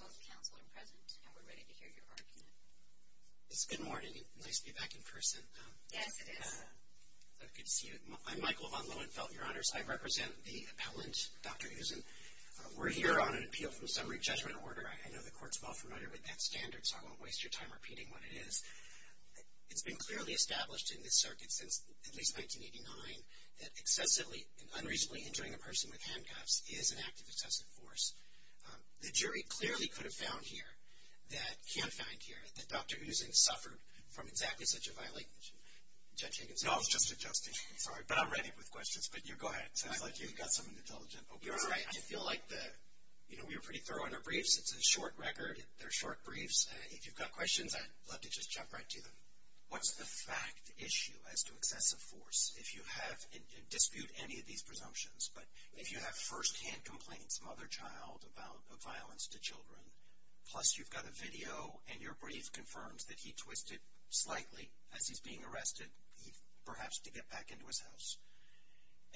Both counsel are present, and we're ready to hear your argument. It's a good morning. Nice to be back in person. Yes, it is. Good to see you. I'm Michael von Lohenfeld, Your Honors. I represent the appellant, Dr. Uzun. We're here on an appeal from summary judgment order. I know the Court's well familiar with that standard, so I won't waste your time repeating what it is. It's been clearly established in this circuit since at least 1989 that excessively and unreasonably injuring a person with handcuffs is an act of excessive force. The jury clearly could have found here that, can find here, that Dr. Uzun suffered from exactly such a violation. Judge Higgins. No, I was just adjusting. Sorry. But I'm ready with questions, but you go ahead. It seems like you've got some intelligent opiates. I feel like the, you know, we were pretty thorough on our briefs. It's a short record. They're short briefs. If you've got questions, I'd love to just jump right to them. What's the fact issue as to excessive force? If you have, and dispute any of these presumptions, but if you have first-hand complaints, mother-child about violence to children, plus you've got a video and your brief confirms that he twisted slightly as he's being arrested, perhaps to get back into his house,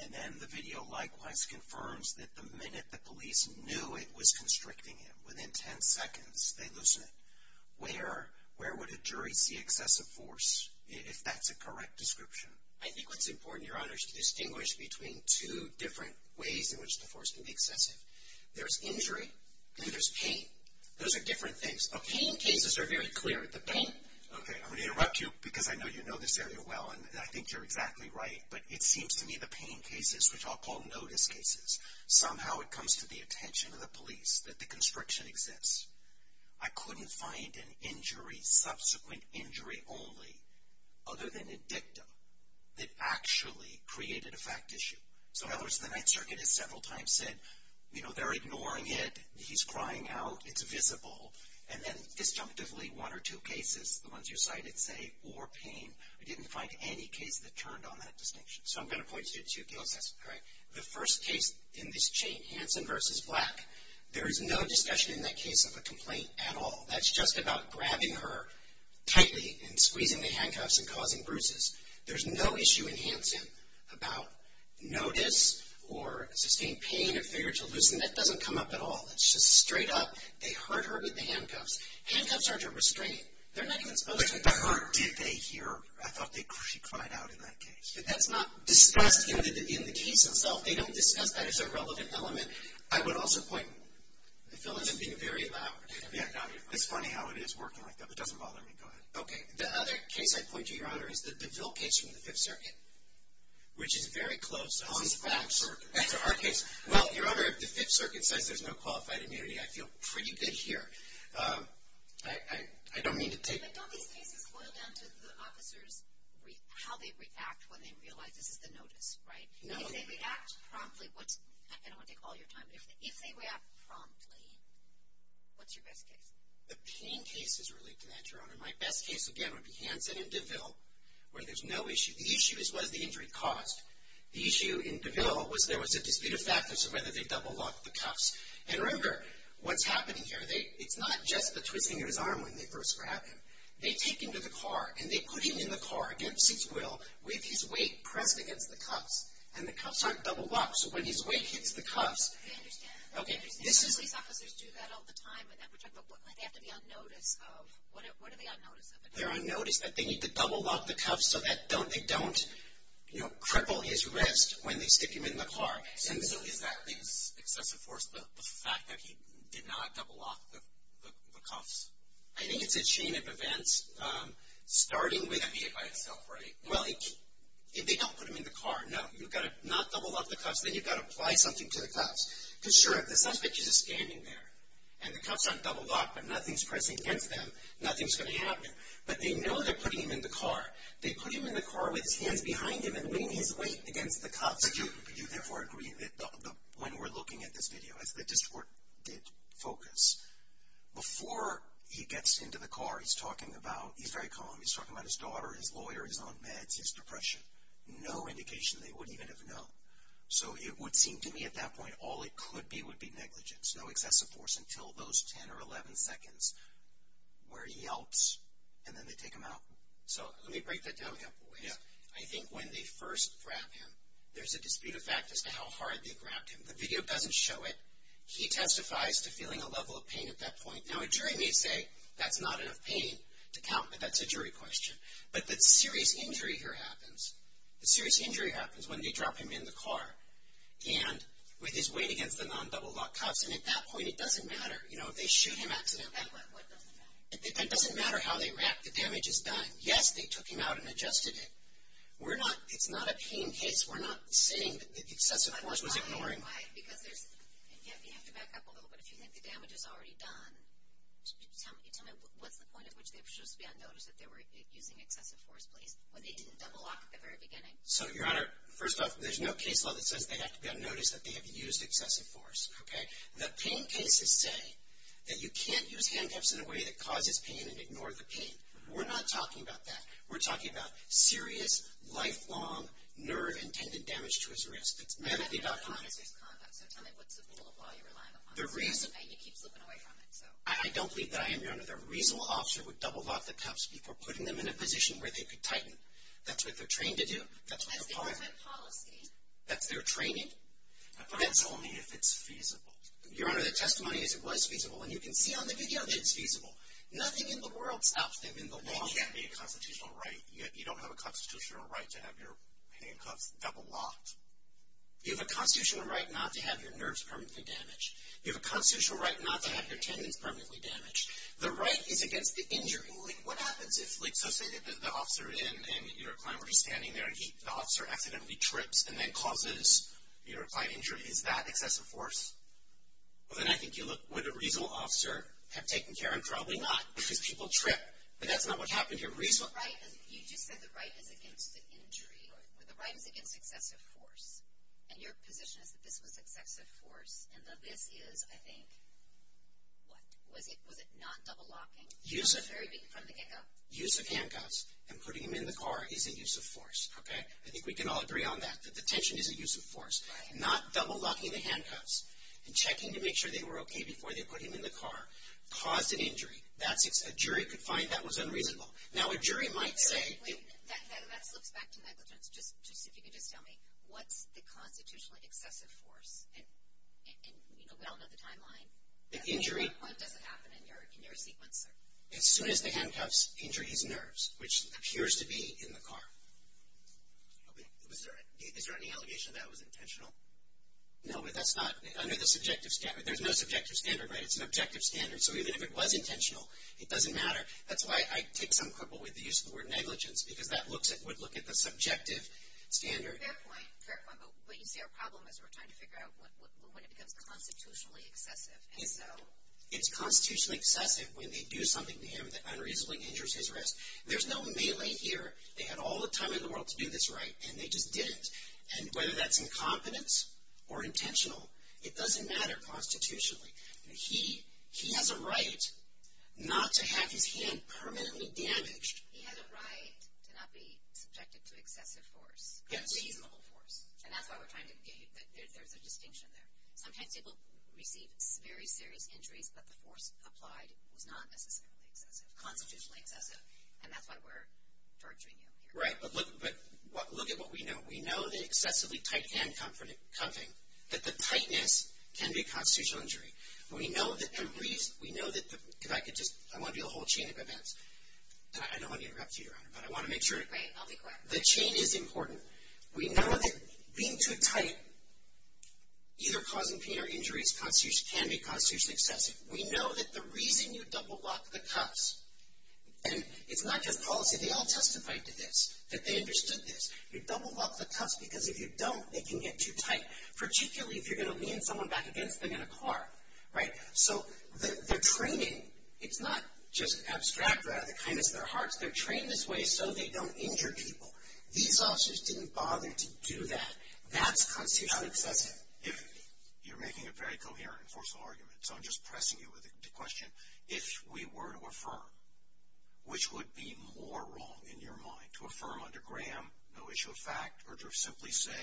and then the video likewise confirms that the minute the police knew it was constricting him, within 10 seconds they loosen it, where would a jury see excessive force if that's a correct description? I think what's important, Your Honor, is to distinguish between two different ways in which the force can be excessive. There's injury and there's pain. Those are different things. The pain cases are very clear. The pain, okay, I'm going to interrupt you because I know you know this area well, and I think you're exactly right, but it seems to me the pain cases, which I'll call notice cases, somehow it comes to the attention of the police that the constriction exists. I couldn't find an injury, subsequent injury only, other than a dictum, that actually created a fact issue. So, in other words, the Ninth Circuit has several times said, you know, they're ignoring it, he's crying out, it's visible, and then disjunctively one or two cases, the ones you cited, say, or pain, I didn't find any case that turned on that distinction. So I'm going to point to two cases, correct? The first case in this chain, Hansen v. Black, there is no discussion in that case of a complaint at all. That's just about grabbing her tightly and squeezing the handcuffs and causing bruises. There's no issue in Hansen about notice or sustained pain or failure to loosen. That doesn't come up at all. It's just straight up, they hurt her with the handcuffs. Handcuffs aren't to restrain. They're not even supposed to hurt her. But the hurt, did they hear? I thought she cried out in that case. That's not discussed in the case itself. They don't discuss that as a relevant element. I would also point, I feel as if I'm being very loud. Yeah, no, it's funny how it is working like that, but it doesn't bother me. Go ahead. Okay. The other case I point to, Your Honor, is the Bill case from the Fifth Circuit, which is very close. Oh, it's the Black Circuit. That's our case. Well, Your Honor, the Fifth Circuit says there's no qualified immunity. I feel pretty good here. I don't mean to take. But don't these cases boil down to the officers, how they react when they realize this is the notice, right? No. If they react promptly, I don't want to take all your time, but if they react promptly, what's your best case? The pain case is related to that, Your Honor. My best case, again, would be Hansen and DeVille, where there's no issue. The issue is what has the injury caused. The issue in DeVille was there was a dispute of factors of whether they double locked the cuffs. And remember, what's happening here, it's not just the twisting of his arm when they first grab him. They take him to the car, and they put him in the car against his will with his weight pressed against the cuffs, and the cuffs aren't double locked, so when his weight hits the cuffs. I understand. Okay. These officers do that all the time, but they have to be on notice of, what are they on notice of? They're on notice that they need to double lock the cuffs so that they don't, you know, cripple his wrist when they stick him in the car. And so is that the excessive force, the fact that he did not double lock the cuffs? I think it's a chain of events starting with a vehicle itself, right? Well, they don't put him in the car. No, you've got to not double lock the cuffs. Then you've got to apply something to the cuffs. Because, sure, if the suspect is just standing there, and the cuffs aren't double locked, but nothing's pressing against them, nothing's going to happen. But they know they're putting him in the car. They put him in the car with his hands behind him and weighing his weight against the cuffs. But you therefore agree that when we're looking at this video, as the district court did focus, before he gets into the car, he's talking about he's very calm. He's talking about his daughter, his lawyer, his own meds, his depression. No indication they would even have known. So it would seem to me at that point all it could be would be negligence. No excessive force until those 10 or 11 seconds where he yelps and then they take him out. So let me break that down a couple ways. In this video, I think when they first grab him, there's a dispute of fact as to how hard they grabbed him. The video doesn't show it. He testifies to feeling a level of pain at that point. Now a jury may say that's not enough pain to count, but that's a jury question. But the serious injury here happens. The serious injury happens when they drop him in the car and with his weight against the non-double locked cuffs. And at that point it doesn't matter, you know, if they shoot him accidentally. It doesn't matter how they wrap. The damage is done. Yes, they took him out and adjusted it. We're not, it's not a pain case. We're not saying that excessive force was ignoring. Why, because there's, and you have to back up a little bit, if you think the damage is already done, tell me what's the point at which they should just be on notice that they were using excessive force, please, when they didn't double lock at the very beginning? So, Your Honor, first off, there's no case law that says they have to be on notice that they have used excessive force. Okay? The pain cases say that you can't use handcuffs in a way that causes pain and ignore the pain. We're not talking about that. We're talking about serious, lifelong, nerve and tendon damage to his wrist. It's medically documented. So tell me, what's the rule of law you're relying upon? They're reasonable. And you keep slipping away from it, so. I don't believe that I am, Your Honor. The reasonable officer would double lock the cuffs before putting them in a position where they could tighten. That's what they're trained to do. That's their policy. That's their training. That's only if it's feasible. Your Honor, the testimony is it was feasible. And you can see on the video that it's feasible. Nothing in the world stops them in the law. It can't be a constitutional right. You don't have a constitutional right to have your handcuffs double locked. You have a constitutional right not to have your nerves permanently damaged. You have a constitutional right not to have your tendons permanently damaged. The right is against the injury. What happens if, like, so say the officer and your client were just standing there, and the officer accidentally trips and then causes your client injury? Is that excessive force? Well, then I think you look, would a reasonable officer have taken care? And probably not, because people trip. But that's not what happened here. You just said the right is against the injury. The right is against excessive force. And your position is that this was excessive force, and that this is, I think, what? Was it not double locking? Use of handcuffs and putting them in the car is a use of force, okay? Not double locking the handcuffs. And checking to make sure they were okay before they put him in the car caused an injury. A jury could find that was unreasonable. Now, a jury might say. That slips back to negligence. Just if you could just tell me, what's the constitutionally excessive force? And, you know, we all know the timeline. The injury. What does it happen in your sequence, sir? As soon as the handcuffs injure his nerves, which appears to be in the car. Is there any allegation that was intentional? No, but that's not under the subjective standard. There's no subjective standard, right? It's an objective standard. So even if it was intentional, it doesn't matter. That's why I take some cripple with the use of the word negligence. Because that would look at the subjective standard. Fair point. But you see our problem is we're trying to figure out when it becomes constitutionally excessive. And so. It's constitutionally excessive when they do something to him that unreasonably injures his wrist. There's no melee here. They had all the time in the world to do this right, and they just didn't. And whether that's incompetence or intentional, it doesn't matter constitutionally. He has a right not to have his hand permanently damaged. He has a right to not be subjected to excessive force. Yes. But reasonable force. And that's why we're trying to give you that there's a distinction there. Sometimes people receive very serious injuries, but the force applied was not necessarily excessive. And that's why we're torturing you here. Right. But look at what we know. We know that excessively tight hand cuffing, that the tightness can be a constitutional injury. We know that the reason. We know that the. If I could just. I want to do a whole chain of events. I don't want to interrupt you, Your Honor, but I want to make sure. Great. I'll be quick. The chain is important. We know that being too tight, either causing pain or injuries, can be constitutionally excessive. We know that the reason you double lock the cuffs, and it's not just policy. They all testified to this, that they understood this. You double lock the cuffs because if you don't, they can get too tight, particularly if you're going to lean someone back against them in a car. Right. So they're training. It's not just abstract, rather, kindness of their hearts. They're trained this way so they don't injure people. These officers didn't bother to do that. That's constitutionally excessive. You're making a very coherent and forceful argument, so I'm just pressing you with the question. If we were to affirm, which would be more wrong in your mind, to affirm under Graham no issue of fact or to simply say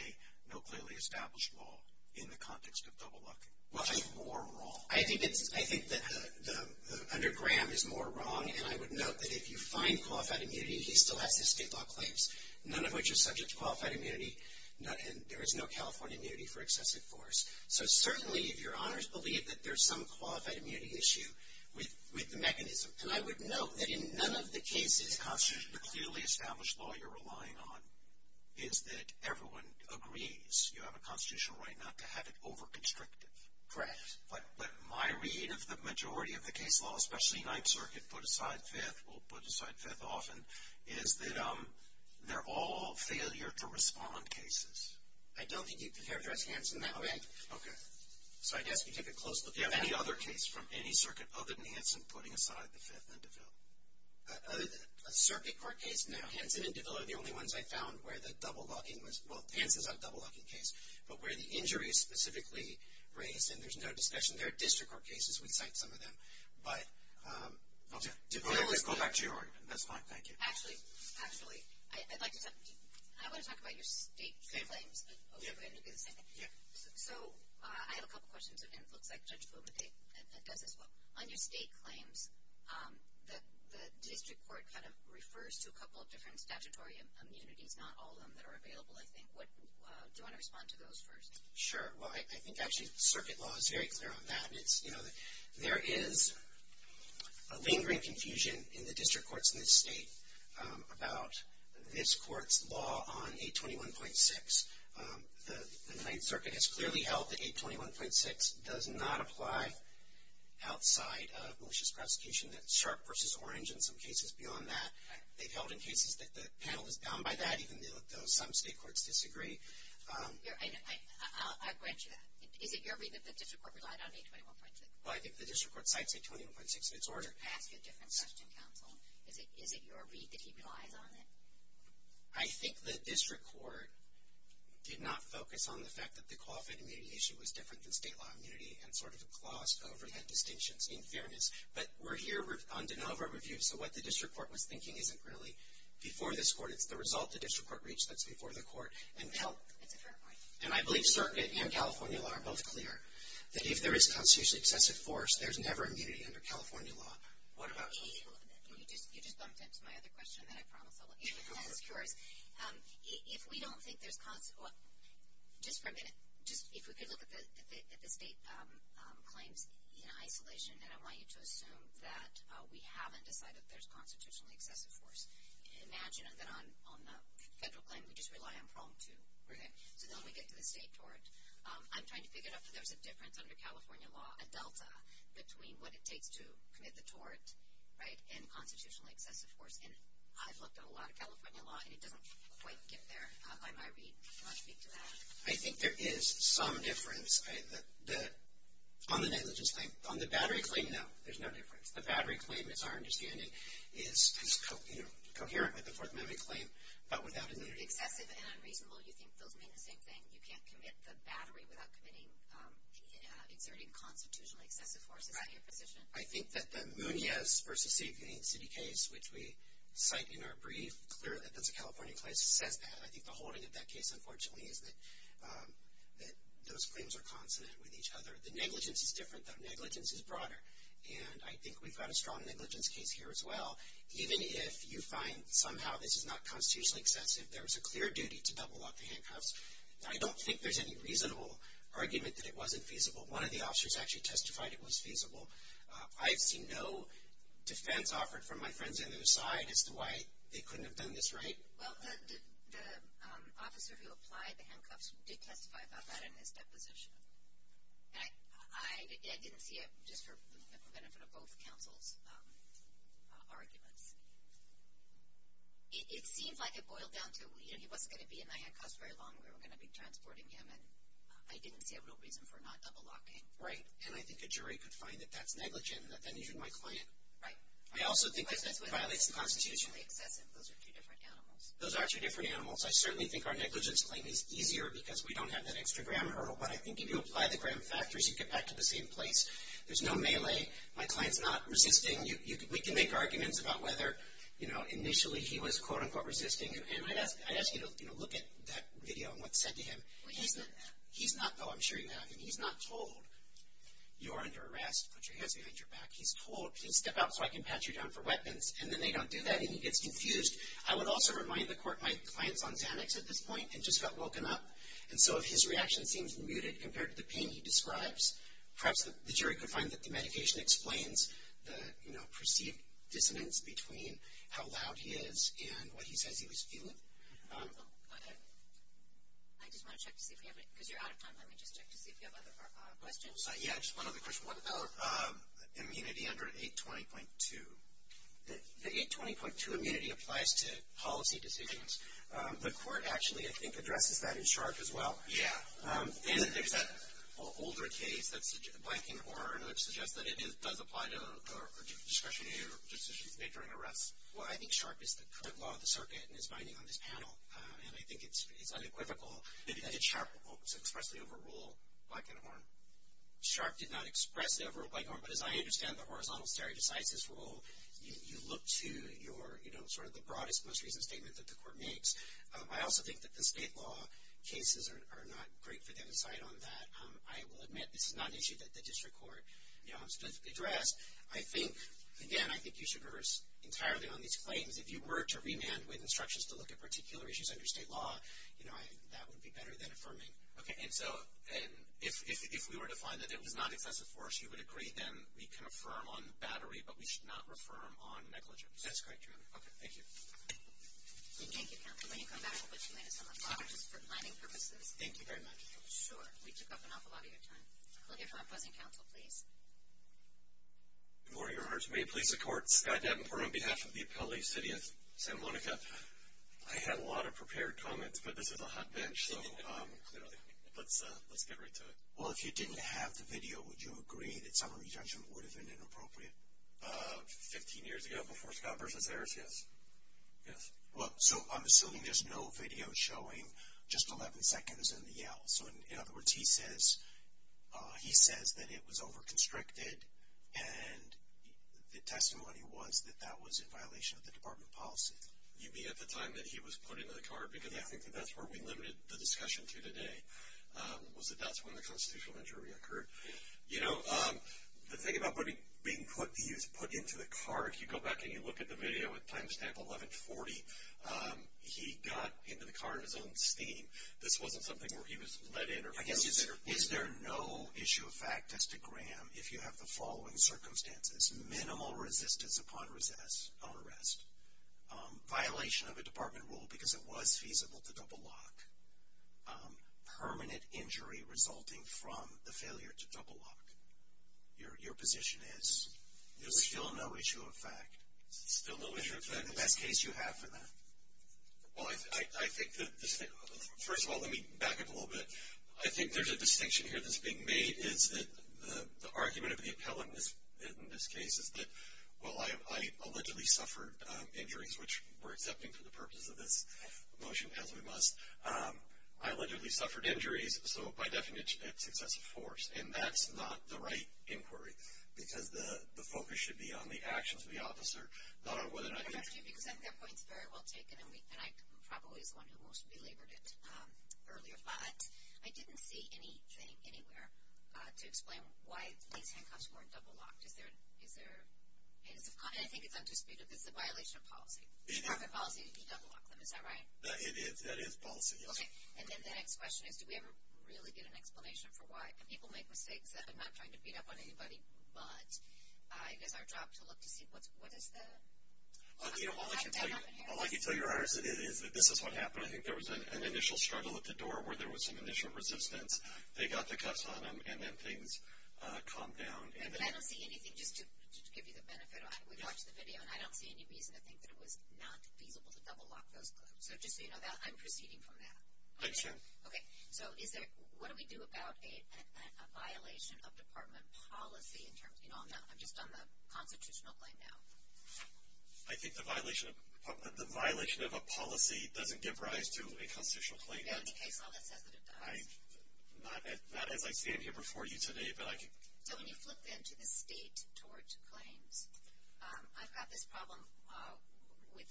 no clearly established law in the context of double locking? Which is more wrong? I think that under Graham is more wrong, and I would note that if you find qualified immunity, he still has his state law claims, none of which are subject to qualified immunity. There is no California immunity for excessive force. So certainly if your honors believe that there's some qualified immunity issue with the mechanism, and I would note that in none of the cases constitutionally clearly established law you're relying on is that everyone agrees you have a constitutional right not to have it over-constricted. Correct. But my read of the majority of the case law, especially Ninth Circuit, put aside fifth, often is that they're all failure to respond cases. I don't think you'd characterize Hanson that way. Okay. So I guess if you take a close look at that. Any other case from any circuit other than Hanson putting aside the fifth in DeVille? A circuit court case, now, Hanson and DeVille are the only ones I found where the double locking was, well, Hanson's not a double locking case, but where the injury is specifically raised, and there's no discussion. There are district court cases. We cite some of them. DeVille, let's go back to your argument. That's fine. Thank you. Actually, I'd like to talk. I want to talk about your state claims. Okay. So I have a couple of questions, and it looks like Judge Fubike does as well. On your state claims, the district court kind of refers to a couple of different statutory immunities, not all of them that are available, I think. Do you want to respond to those first? Sure. Well, I think actually circuit law is very clear on that. There is a lingering confusion in the district courts in this state about this court's law on 821.6. The Ninth Circuit has clearly held that 821.6 does not apply outside of malicious prosecution. That's sharp versus orange in some cases beyond that. They've held in cases that the panel is bound by that, even though some state courts disagree. I grant you that. Is it your read that the district court relied on 821.6? Well, I think the district court cites 821.6 in its order. Can I ask you a different question, counsel? Is it your read that he relies on it? I think the district court did not focus on the fact that the qualified immunity issue was different than state law immunity and sort of glossed over that distinction in fairness. But we're here on de novo review, so what the district court was thinking isn't really before this court. It's the result the district court reached that's before the court. It's a fair point. And I believe circuit and California law are both clear that if there is constitutionally excessive force, there's never immunity under California law. What about state law? You just bumped into my other question, and I promise I'll look at it. If we don't think there's constitutionally excessive force, just for a minute, if we could look at the state claims in isolation, and I want you to assume that we haven't decided there's constitutionally excessive force. Imagine that on the federal claim we just rely on Prompt 2. So then we get to the state tort. I'm trying to figure out if there's a difference under California law, a delta between what it takes to commit the tort and constitutionally excessive force. And I've looked at a lot of California law, and it doesn't quite get there by my read. Do you want to speak to that? I think there is some difference. On the negligence claim, on the battery claim, no, there's no difference. The battery claim, it's our understanding, is coherent with the Fourth Amendment claim, but without immunity. If excessive and unreasonable, you think those mean the same thing? You can't commit the battery without exerting constitutionally excessive force. Is that your position? Right. I think that the Munoz v. City case, which we cite in our brief, clearly that's a California case, says that. I think the holding of that case, unfortunately, is that those claims are consonant with each other. The negligence is different, though negligence is broader. And I think we've got a strong negligence case here as well. Even if you find somehow this is not constitutionally excessive, there was a clear duty to double up the handcuffs. I don't think there's any reasonable argument that it wasn't feasible. One of the officers actually testified it was feasible. I've seen no defense offered from my friends on the other side as to why they couldn't have done this right. Well, the officer who applied the handcuffs did testify about that in his deposition. I didn't see it just for the benefit of both counsels' arguments. It seems like it boiled down to, you know, he wasn't going to be in the handcuffs very long. We were going to be transporting him, and I didn't see a real reason for not double locking. Right. And I think a jury could find that that's negligent and that that injured my client. Right. I also think that that violates the Constitution. Those are two different animals. Those are two different animals. I certainly think our negligence claim is easier because we don't have that extra gram hurdle. But I think if you apply the gram factors, you get back to the same place. There's no melee. My client's not resisting. We can make arguments about whether, you know, initially he was, quote, unquote, resisting. And I'd ask you to, you know, look at that video and what's said to him. Well, he's not that. He's not. Oh, I'm sure you have. And he's not told, you are under arrest. Put your hands behind your back. He's told, please step out so I can pat you down for weapons. And then they don't do that, and he gets confused. I would also remind the court my client's on Xanax at this point and just got woken up. And so if his reaction seems muted compared to the pain he describes, perhaps the jury could find that the medication explains the, you know, perceived dissonance between how loud he is and what he says he was feeling. I just want to check to see if we have any, because you're out of time. Let me just check to see if you have other questions. Yeah, just one other question. What about immunity under 820.2? The 820.2 immunity applies to policy decisions. The court actually, I think, addresses that in Sharpe as well. Yeah. And there's that older case, that's Blankenhorn, which suggests that it does apply to discretionary decisions made during arrest. Well, I think Sharpe is the current law of the circuit and is binding on this panel, and I think it's unequivocal that it's Sharpe's fault to expressly overrule Blankenhorn. Sharpe did not expressly overrule Blankenhorn, but as I understand the horizontal stare decisis rule, you look to your, you know, sort of the broadest most recent statement that the court makes. I also think that the state law cases are not great for them to cite on that. I will admit this is not an issue that the district court, you know, has addressed. I think, again, I think you should reverse entirely on these claims. If you were to remand with instructions to look at particular issues under state law, you know, that would be better than affirming. Okay. And so if we were to find that it was not excessive for us, you would agree, then we can affirm on battery, but we should not affirm on negligence. That's correct, Your Honor. Okay. Thank you. Thank you, counsel. When you come back, I'll put you into some of the boxes for planning purposes. Thank you very much. Sure. We took up an awful lot of your time. We'll hear from our opposing counsel, please. Good morning, Your Honor. May it please the court. Scott Davenport on behalf of the Appellate City of Santa Monica. I had a lot of prepared comments, but this is a hot bench. So let's get right to it. Well, if you didn't have the video, would you agree that summary judgment would have been inappropriate? Fifteen years ago before Scott versus Harris, yes. Yes. Well, so I'm assuming there's no video showing just 11 seconds and the yell. So, in other words, he says that it was over-constricted, and the testimony was that that was in violation of the department policy. You mean at the time that he was put into the car? Because I think that that's where we limited the discussion to today, was that that's when the constitutional injury occurred. You know, the thing about being put into the car, if you go back and you look at the video with timestamp 1140, he got into the car in his own steam. This wasn't something where he was let in. I guess is there no issue of fact as to Graham if you have the following circumstances? Minimal resistance upon arrest. Violation of a department rule because it was feasible to double lock. Permanent injury resulting from the failure to double lock. Your position is? There's still no issue of fact. Still no issue of fact. Is that the best case you have for that? Well, I think that this thing, first of all, let me back up a little bit. I think there's a distinction here that's being made, is that the argument of the appellant in this case is that, well, I allegedly suffered injuries, which we're accepting for the purpose of this motion as we must. I allegedly suffered injuries, so by definition, that's excessive force. And that's not the right inquiry because the focus should be on the actions of the officer, not on whether or not he did it. I don't know if you can accept that point. It's very well taken, and I probably was the one who most belabored it earlier. But I didn't see anything anywhere to explain why these handcuffs weren't double locked. I think it's undisputed. It's a violation of policy. It's corporate policy to double lock them. Is that right? It is. That is policy, yes. And then the next question is, do we ever really get an explanation for why? People make mistakes. I'm not trying to beat up on anybody, but it is our job to look to see what is the outcome. All I can tell you, Your Honor, is that this is what happened. I think there was an initial struggle at the door where there was some initial resistance. They got the cuffs on them, and then things calmed down. But I don't see anything, just to give you the benefit, we watched the video, and I don't see any reason to think that it was not feasible to double lock those cuffs. So just so you know, I'm proceeding from that. I understand. Okay. So what do we do about a violation of department policy in terms of, you know, I'm just on the constitutional claim now. I think the violation of a policy doesn't give rise to a constitutional claim. In any case, all that says that it does. Not as I stand here before you today, but I can. So when you flip then to the state tort claims, I've got this problem with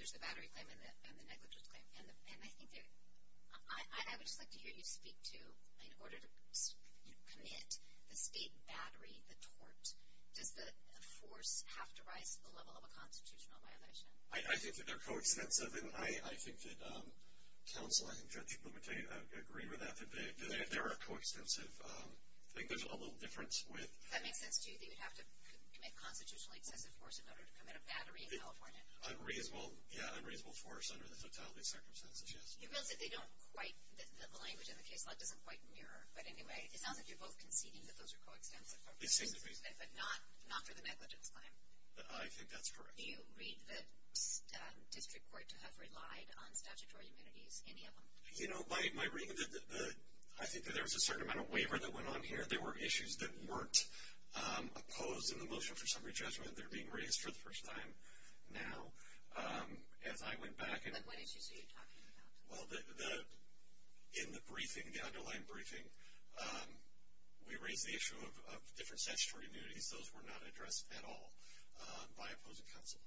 there's the battery claim and the negligence claim. And I would just like to hear you speak to, in order to commit the state battery, the tort, does the force have to rise to the level of a constitutional violation? I think that they're coextensive. And I think that counsel and Judge Clemente agree with that, that they are coextensive. I think there's a little difference with. Does that make sense to you, that you would have to commit constitutionally excessive force in order to commit a battery in California? Unreasonable, yeah, unreasonable force under the totality circumstances, yes. You realize that they don't quite, the language in the case law doesn't quite mirror. But anyway, it sounds like you're both conceding that those are coextensive. They seem to be. But not for the negligence claim. I think that's correct. Do you read the district court to have relied on statutory immunities, any of them? You know, by reading the, I think that there was a certain amount of waiver that went on here. There were issues that weren't opposed in the motion for summary judgment. They're being raised for the first time now. As I went back and. But what issues are you talking about? Well, in the briefing, the underlying briefing, we raised the issue of different statutory immunities. Those were not addressed at all by opposing counsel.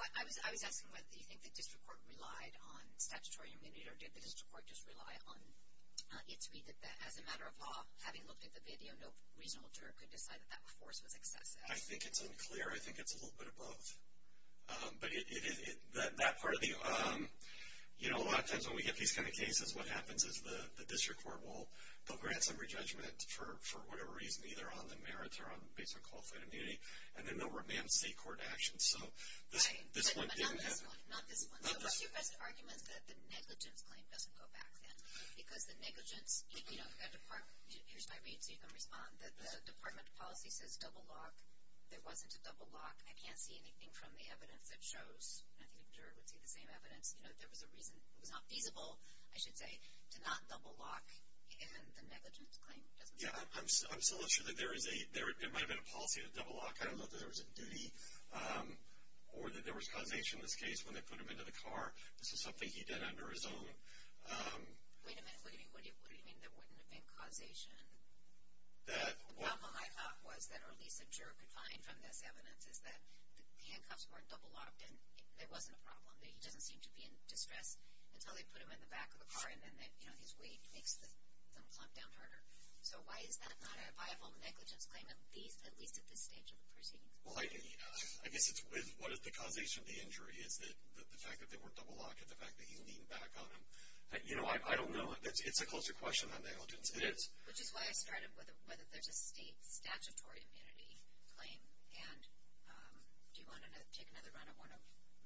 I was asking whether you think the district court relied on statutory immunity, or did the district court just rely on it to be that as a matter of law, having looked at the video, no reasonable juror could decide that that force was excessive. I think it's unclear. I think it's a little bit of both. But that part of the, you know, a lot of times when we get these kind of cases, what happens is the district court will grant summary judgment for whatever reason, either on the merits or based on qualified immunity, and then they'll remand state court action. So this one didn't happen. Right, but not this one. Not this one. So what's your best argument that the negligence claim doesn't go back then? Because the negligence, you know, here's my read so you can respond. The department policy says double lock. There wasn't a double lock. I can't see anything from the evidence that shows. I think a juror would see the same evidence. You know, there was a reason it was not feasible, I should say, to not double lock. And the negligence claim doesn't go back. Yeah, I'm still not sure that there is a, it might have been a policy to double lock. I don't know if there was a duty or that there was causation in this case when they put him into the car. This is something he did under his own. Wait a minute. What do you mean there wouldn't have been causation? The problem I thought was that at least a juror could find from this evidence is that the handcuffs weren't double locked and there wasn't a problem. He doesn't seem to be in distress until they put him in the back of the car, and then his weight makes them plop down harder. So why is that not a viable negligence claim, at least at this stage of the proceedings? Well, I guess it's with what is the causation of the injury is the fact that they weren't double locked and the fact that he's leaning back on them. You know, I don't know. It's a closer question than negligence is. Which is why I started with whether there's a state statutory immunity claim, and do you want to take another run at one of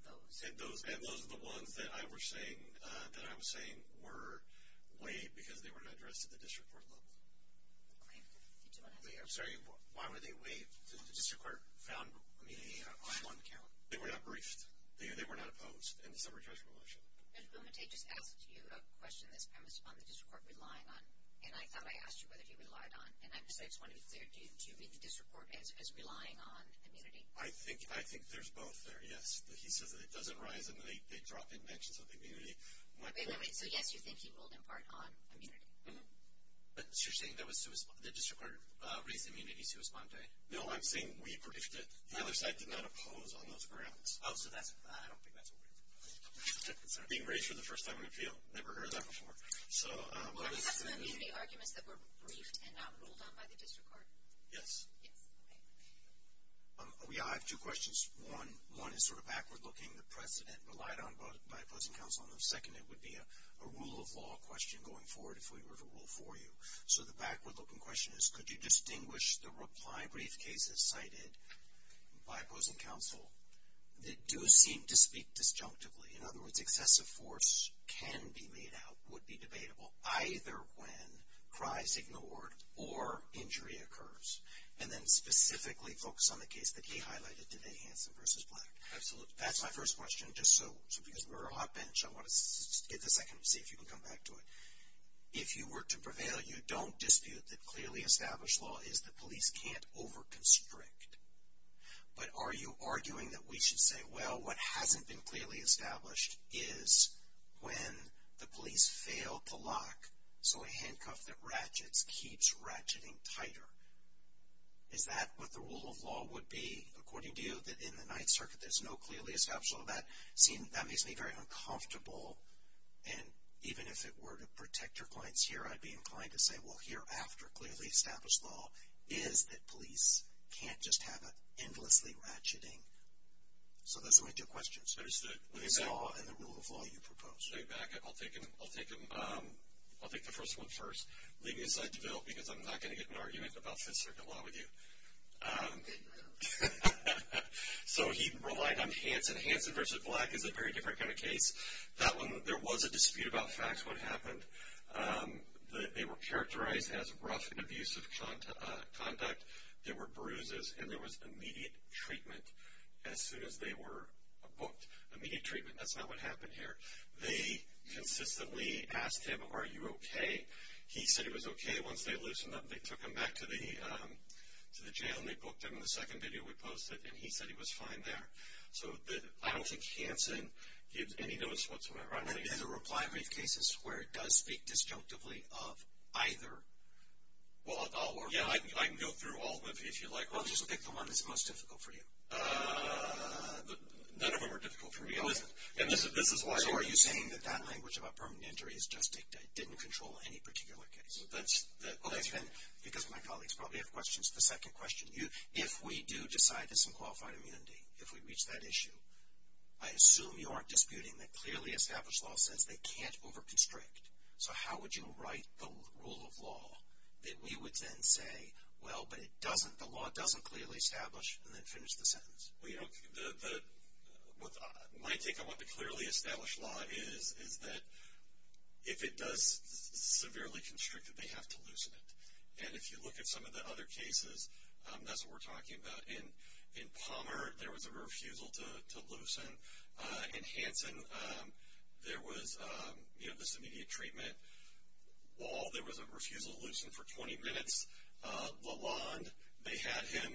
those? And those are the ones that I was saying were waived because they were not addressed at the district court level. I'm sorry. Why were they waived? The district court found immunity on one count. They were not briefed. They were not opposed in the summary judgment motion. Mr. Bumate just asked you a question that's premised upon the district court relying on, and I thought I asked you whether he relied on. And I just wanted to be clear. Do you mean the district court as relying on immunity? I think there's both there, yes. He says that it doesn't rise and they drop in mentions of immunity. Wait, wait, wait. So, yes, you think he ruled in part on immunity? Mm-hmm. So, you're saying the district court raised immunity sui sponte? No, I'm saying we briefed it. The other side did not oppose on those grounds. Oh, so that's why. I don't think that's what we're talking about. It's not being raised for the first time in a field. Never heard that before. So, what is the meaning? Well, don't you have some immunity arguments that were briefed and not ruled on by the district court? Yes. Yes. Okay. Yeah, I have two questions. One is sort of backward-looking. The precedent relied on by opposing counsel. And the second would be a rule of law question going forward if we were to rule for you. So, the backward-looking question is, could you distinguish the reply brief cases cited by opposing counsel that do seem to speak disjunctively? In other words, excessive force can be made out, would be debatable, either when cries ignored or injury occurs. And then specifically focus on the case that he highlighted today, Hanson v. Black. Absolutely. That's my first question. Just because we're on a hot bench, I want to give it a second and see if you can come back to it. If you were to prevail, you don't dispute that clearly established law is that police can't over-constrict. But are you arguing that we should say, well, what hasn't been clearly established is when the police failed to lock so a handcuff that ratchets keeps ratcheting tighter? Is that what the rule of law would be, according to you, that in the Ninth Circuit there's no clearly established law? That makes me very uncomfortable. And even if it were to protect your clients here, I'd be inclined to say, well, hereafter, clearly established law is that police can't just have an endlessly ratcheting. So, those are my two questions. There's the law and the rule of law you proposed. I'll take the first one first. Leave me aside to Bill, because I'm not going to get into an argument about Fifth Circuit law with you. So, he relied on Hanson. Hanson v. Black is a very different kind of case. That one, there was a dispute about facts, what happened. They were characterized as rough and abusive conduct. There were bruises, and there was immediate treatment as soon as they were booked. Immediate treatment, that's not what happened here. They consistently asked him, are you okay? He said he was okay. Once they loosened up, they took him back to the jail, and they booked him in the second video we posted. And he said he was fine there. So, I don't think Hanson gives any notice whatsoever. I think it's a reply brief case where it does speak disjunctively of either. Yeah, I can go through all of them if you'd like. Well, just pick the one that's most difficult for you. None of them are difficult for me. So, are you saying that that language about permanent injury is just dictated, didn't control any particular case? Because my colleagues probably have questions to the second question. If we do decide there's some qualified immunity, if we reach that issue, I assume you aren't disputing the clearly established law says they can't over-constrict. So, how would you write the rule of law that we would then say, well, but the law doesn't clearly establish, and then finish the sentence? Well, you know, my take on what the clearly established law is, is that if it does severely constrict it, they have to loosen it. And if you look at some of the other cases, that's what we're talking about. In Palmer, there was a refusal to loosen. In Hanson, there was, you know, this immediate treatment wall, there was a refusal to loosen for 20 minutes. Lalonde, they had him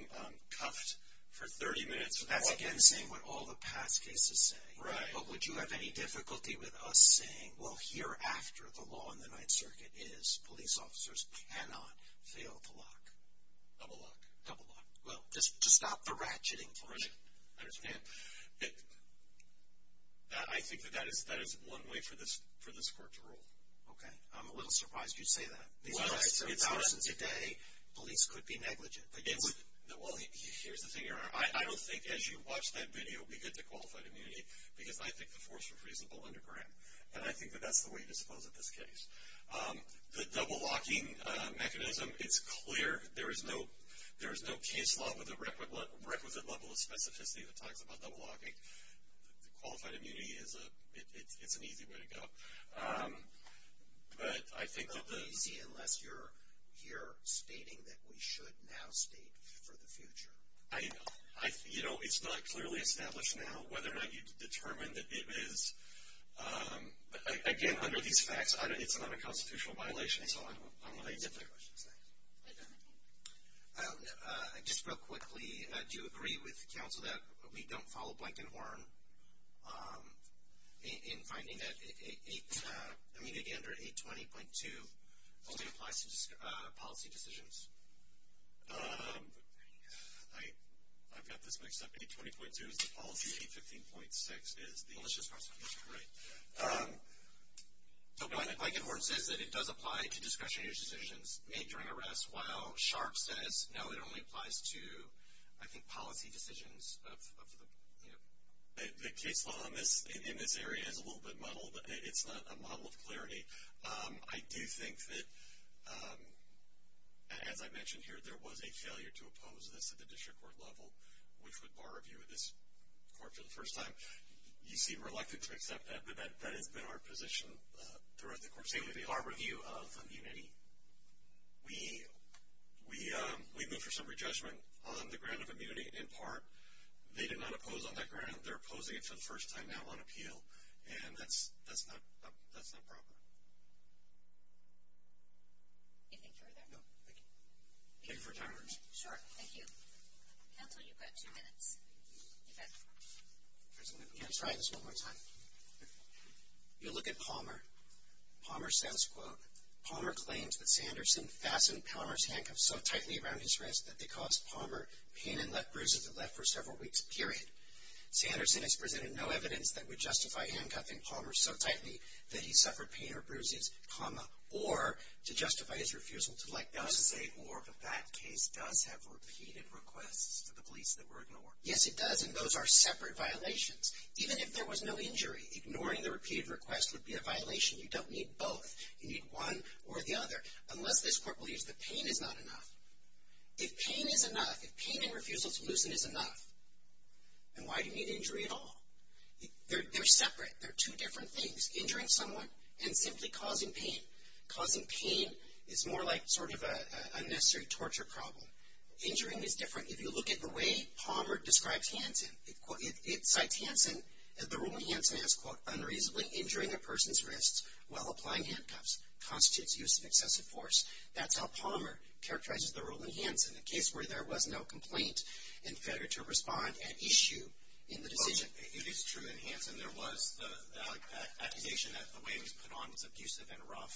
cuffed for 30 minutes. So, that's again saying what all the past cases say. Right. But would you have any difficulty with us saying, well, hereafter the law in the Ninth Circuit is police officers cannot fail to lock? Double lock. Double lock. Well, just stop the ratcheting tension. I understand. I think that that is one way for this court to rule. Okay. I'm a little surprised you'd say that. Well, it's not. In today, police could be negligent. Well, here's the thing. I don't think as you watch that video, we get to qualified immunity, because I think the force was reasonable and correct. And I think that that's the way to suppose in this case. The double locking mechanism, it's clear. There is no case law with a requisite level of specificity that talks about double locking. Qualified immunity, it's an easy way to go. But I think that the – Easy unless you're here stating that we should now state for the future. You know, it's not clearly established now whether or not you determine that it is, again, under these facts, it's not a constitutional violation. So I'm going to answer that question. Thanks. Just real quickly, do you agree with counsel that we don't follow Blankenhorn in finding that 820.2 only applies to policy decisions? I've got this mixed up. 820.2 is the policy, 815.6 is the – Let's just cross it. Right. Blankenhorn says that it does apply to discretionary decisions made during arrest, while Sharp says no, it only applies to, I think, policy decisions of the – The case law in this area is a little bit muddled. It's not a model of clarity. I do think that, as I mentioned here, there was a failure to oppose this at the district court level, which would bar review of this court for the first time. You seem reluctant to accept that, but that has been our position throughout the court. I would say with our review of immunity, we move for some re-judgment on the grant of immunity in part. They did not oppose on that grant. They're opposing it for the first time now on appeal, and that's not proper. Do you think you're there? No. Thank you. Thank you for your time. Sure. Thank you. Counsel, you've got two minutes. Okay. I'm going to try this one more time. You look at Palmer. Palmer says, quote, Palmer claims that Sanderson fastened Palmer's handcuffs so tightly around his wrist that they caused Palmer pain and left bruises that left for several weeks, period. Sanderson has presented no evidence that would justify handcuffing Palmer so tightly that he suffered pain or bruises, comma, or to justify his refusal to let go. I was going to say or, but that case does have repeated requests to the police that were ignored. Yes, it does, and those are separate violations. Even if there was no injury, ignoring the repeated request would be a violation. You don't need both. You need one or the other unless this court believes the pain is not enough. If pain is enough, if pain and refusal to loosen is enough, then why do you need injury at all? They're separate. They're two different things, injuring someone and simply causing pain. Causing pain is more like sort of an unnecessary torture problem. Injuring is different. If you look at the way Palmer describes Hanson, it cites Hanson, the rule in Hanson is, quote, unreasonably injuring a person's wrist while applying handcuffs constitutes use of excessive force. That's how Palmer characterizes the rule in Hanson, a case where there was no complaint and failure to respond at issue in the decision. It is true in Hanson there was the accusation that the way he was put on was abusive and rough,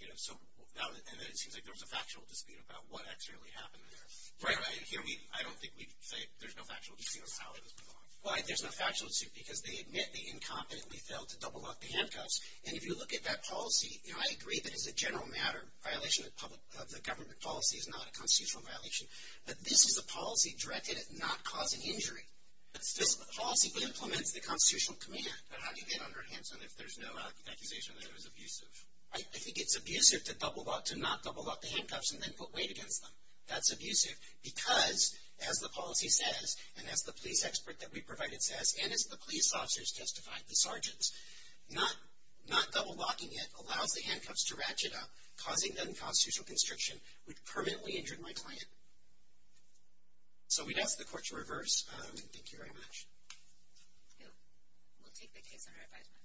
and it seems like there was a factual dispute about what actually happened there. Right. I don't think we'd say there's no factual dispute about how he was put on. Why there's no factual dispute? Because they admit they incompetently failed to double lock the handcuffs, and if you look at that policy, I agree that it's a general matter violation of the government policy. It's not a constitutional violation. But this is a policy directed at not causing injury. This policy implements the constitutional command. How do you get under Hanson if there's no accusation that it was abusive? I think it's abusive to not double lock the handcuffs and then put weight against them. That's abusive because, as the policy says, and as the police expert that we provided says, and as the police officers testified, the sergeants, not double locking it allows the handcuffs to ratchet up, causing the unconstitutional constriction, which permanently injured my client. So we'd ask the court to reverse. Thank you very much. We'll take the case under advisement.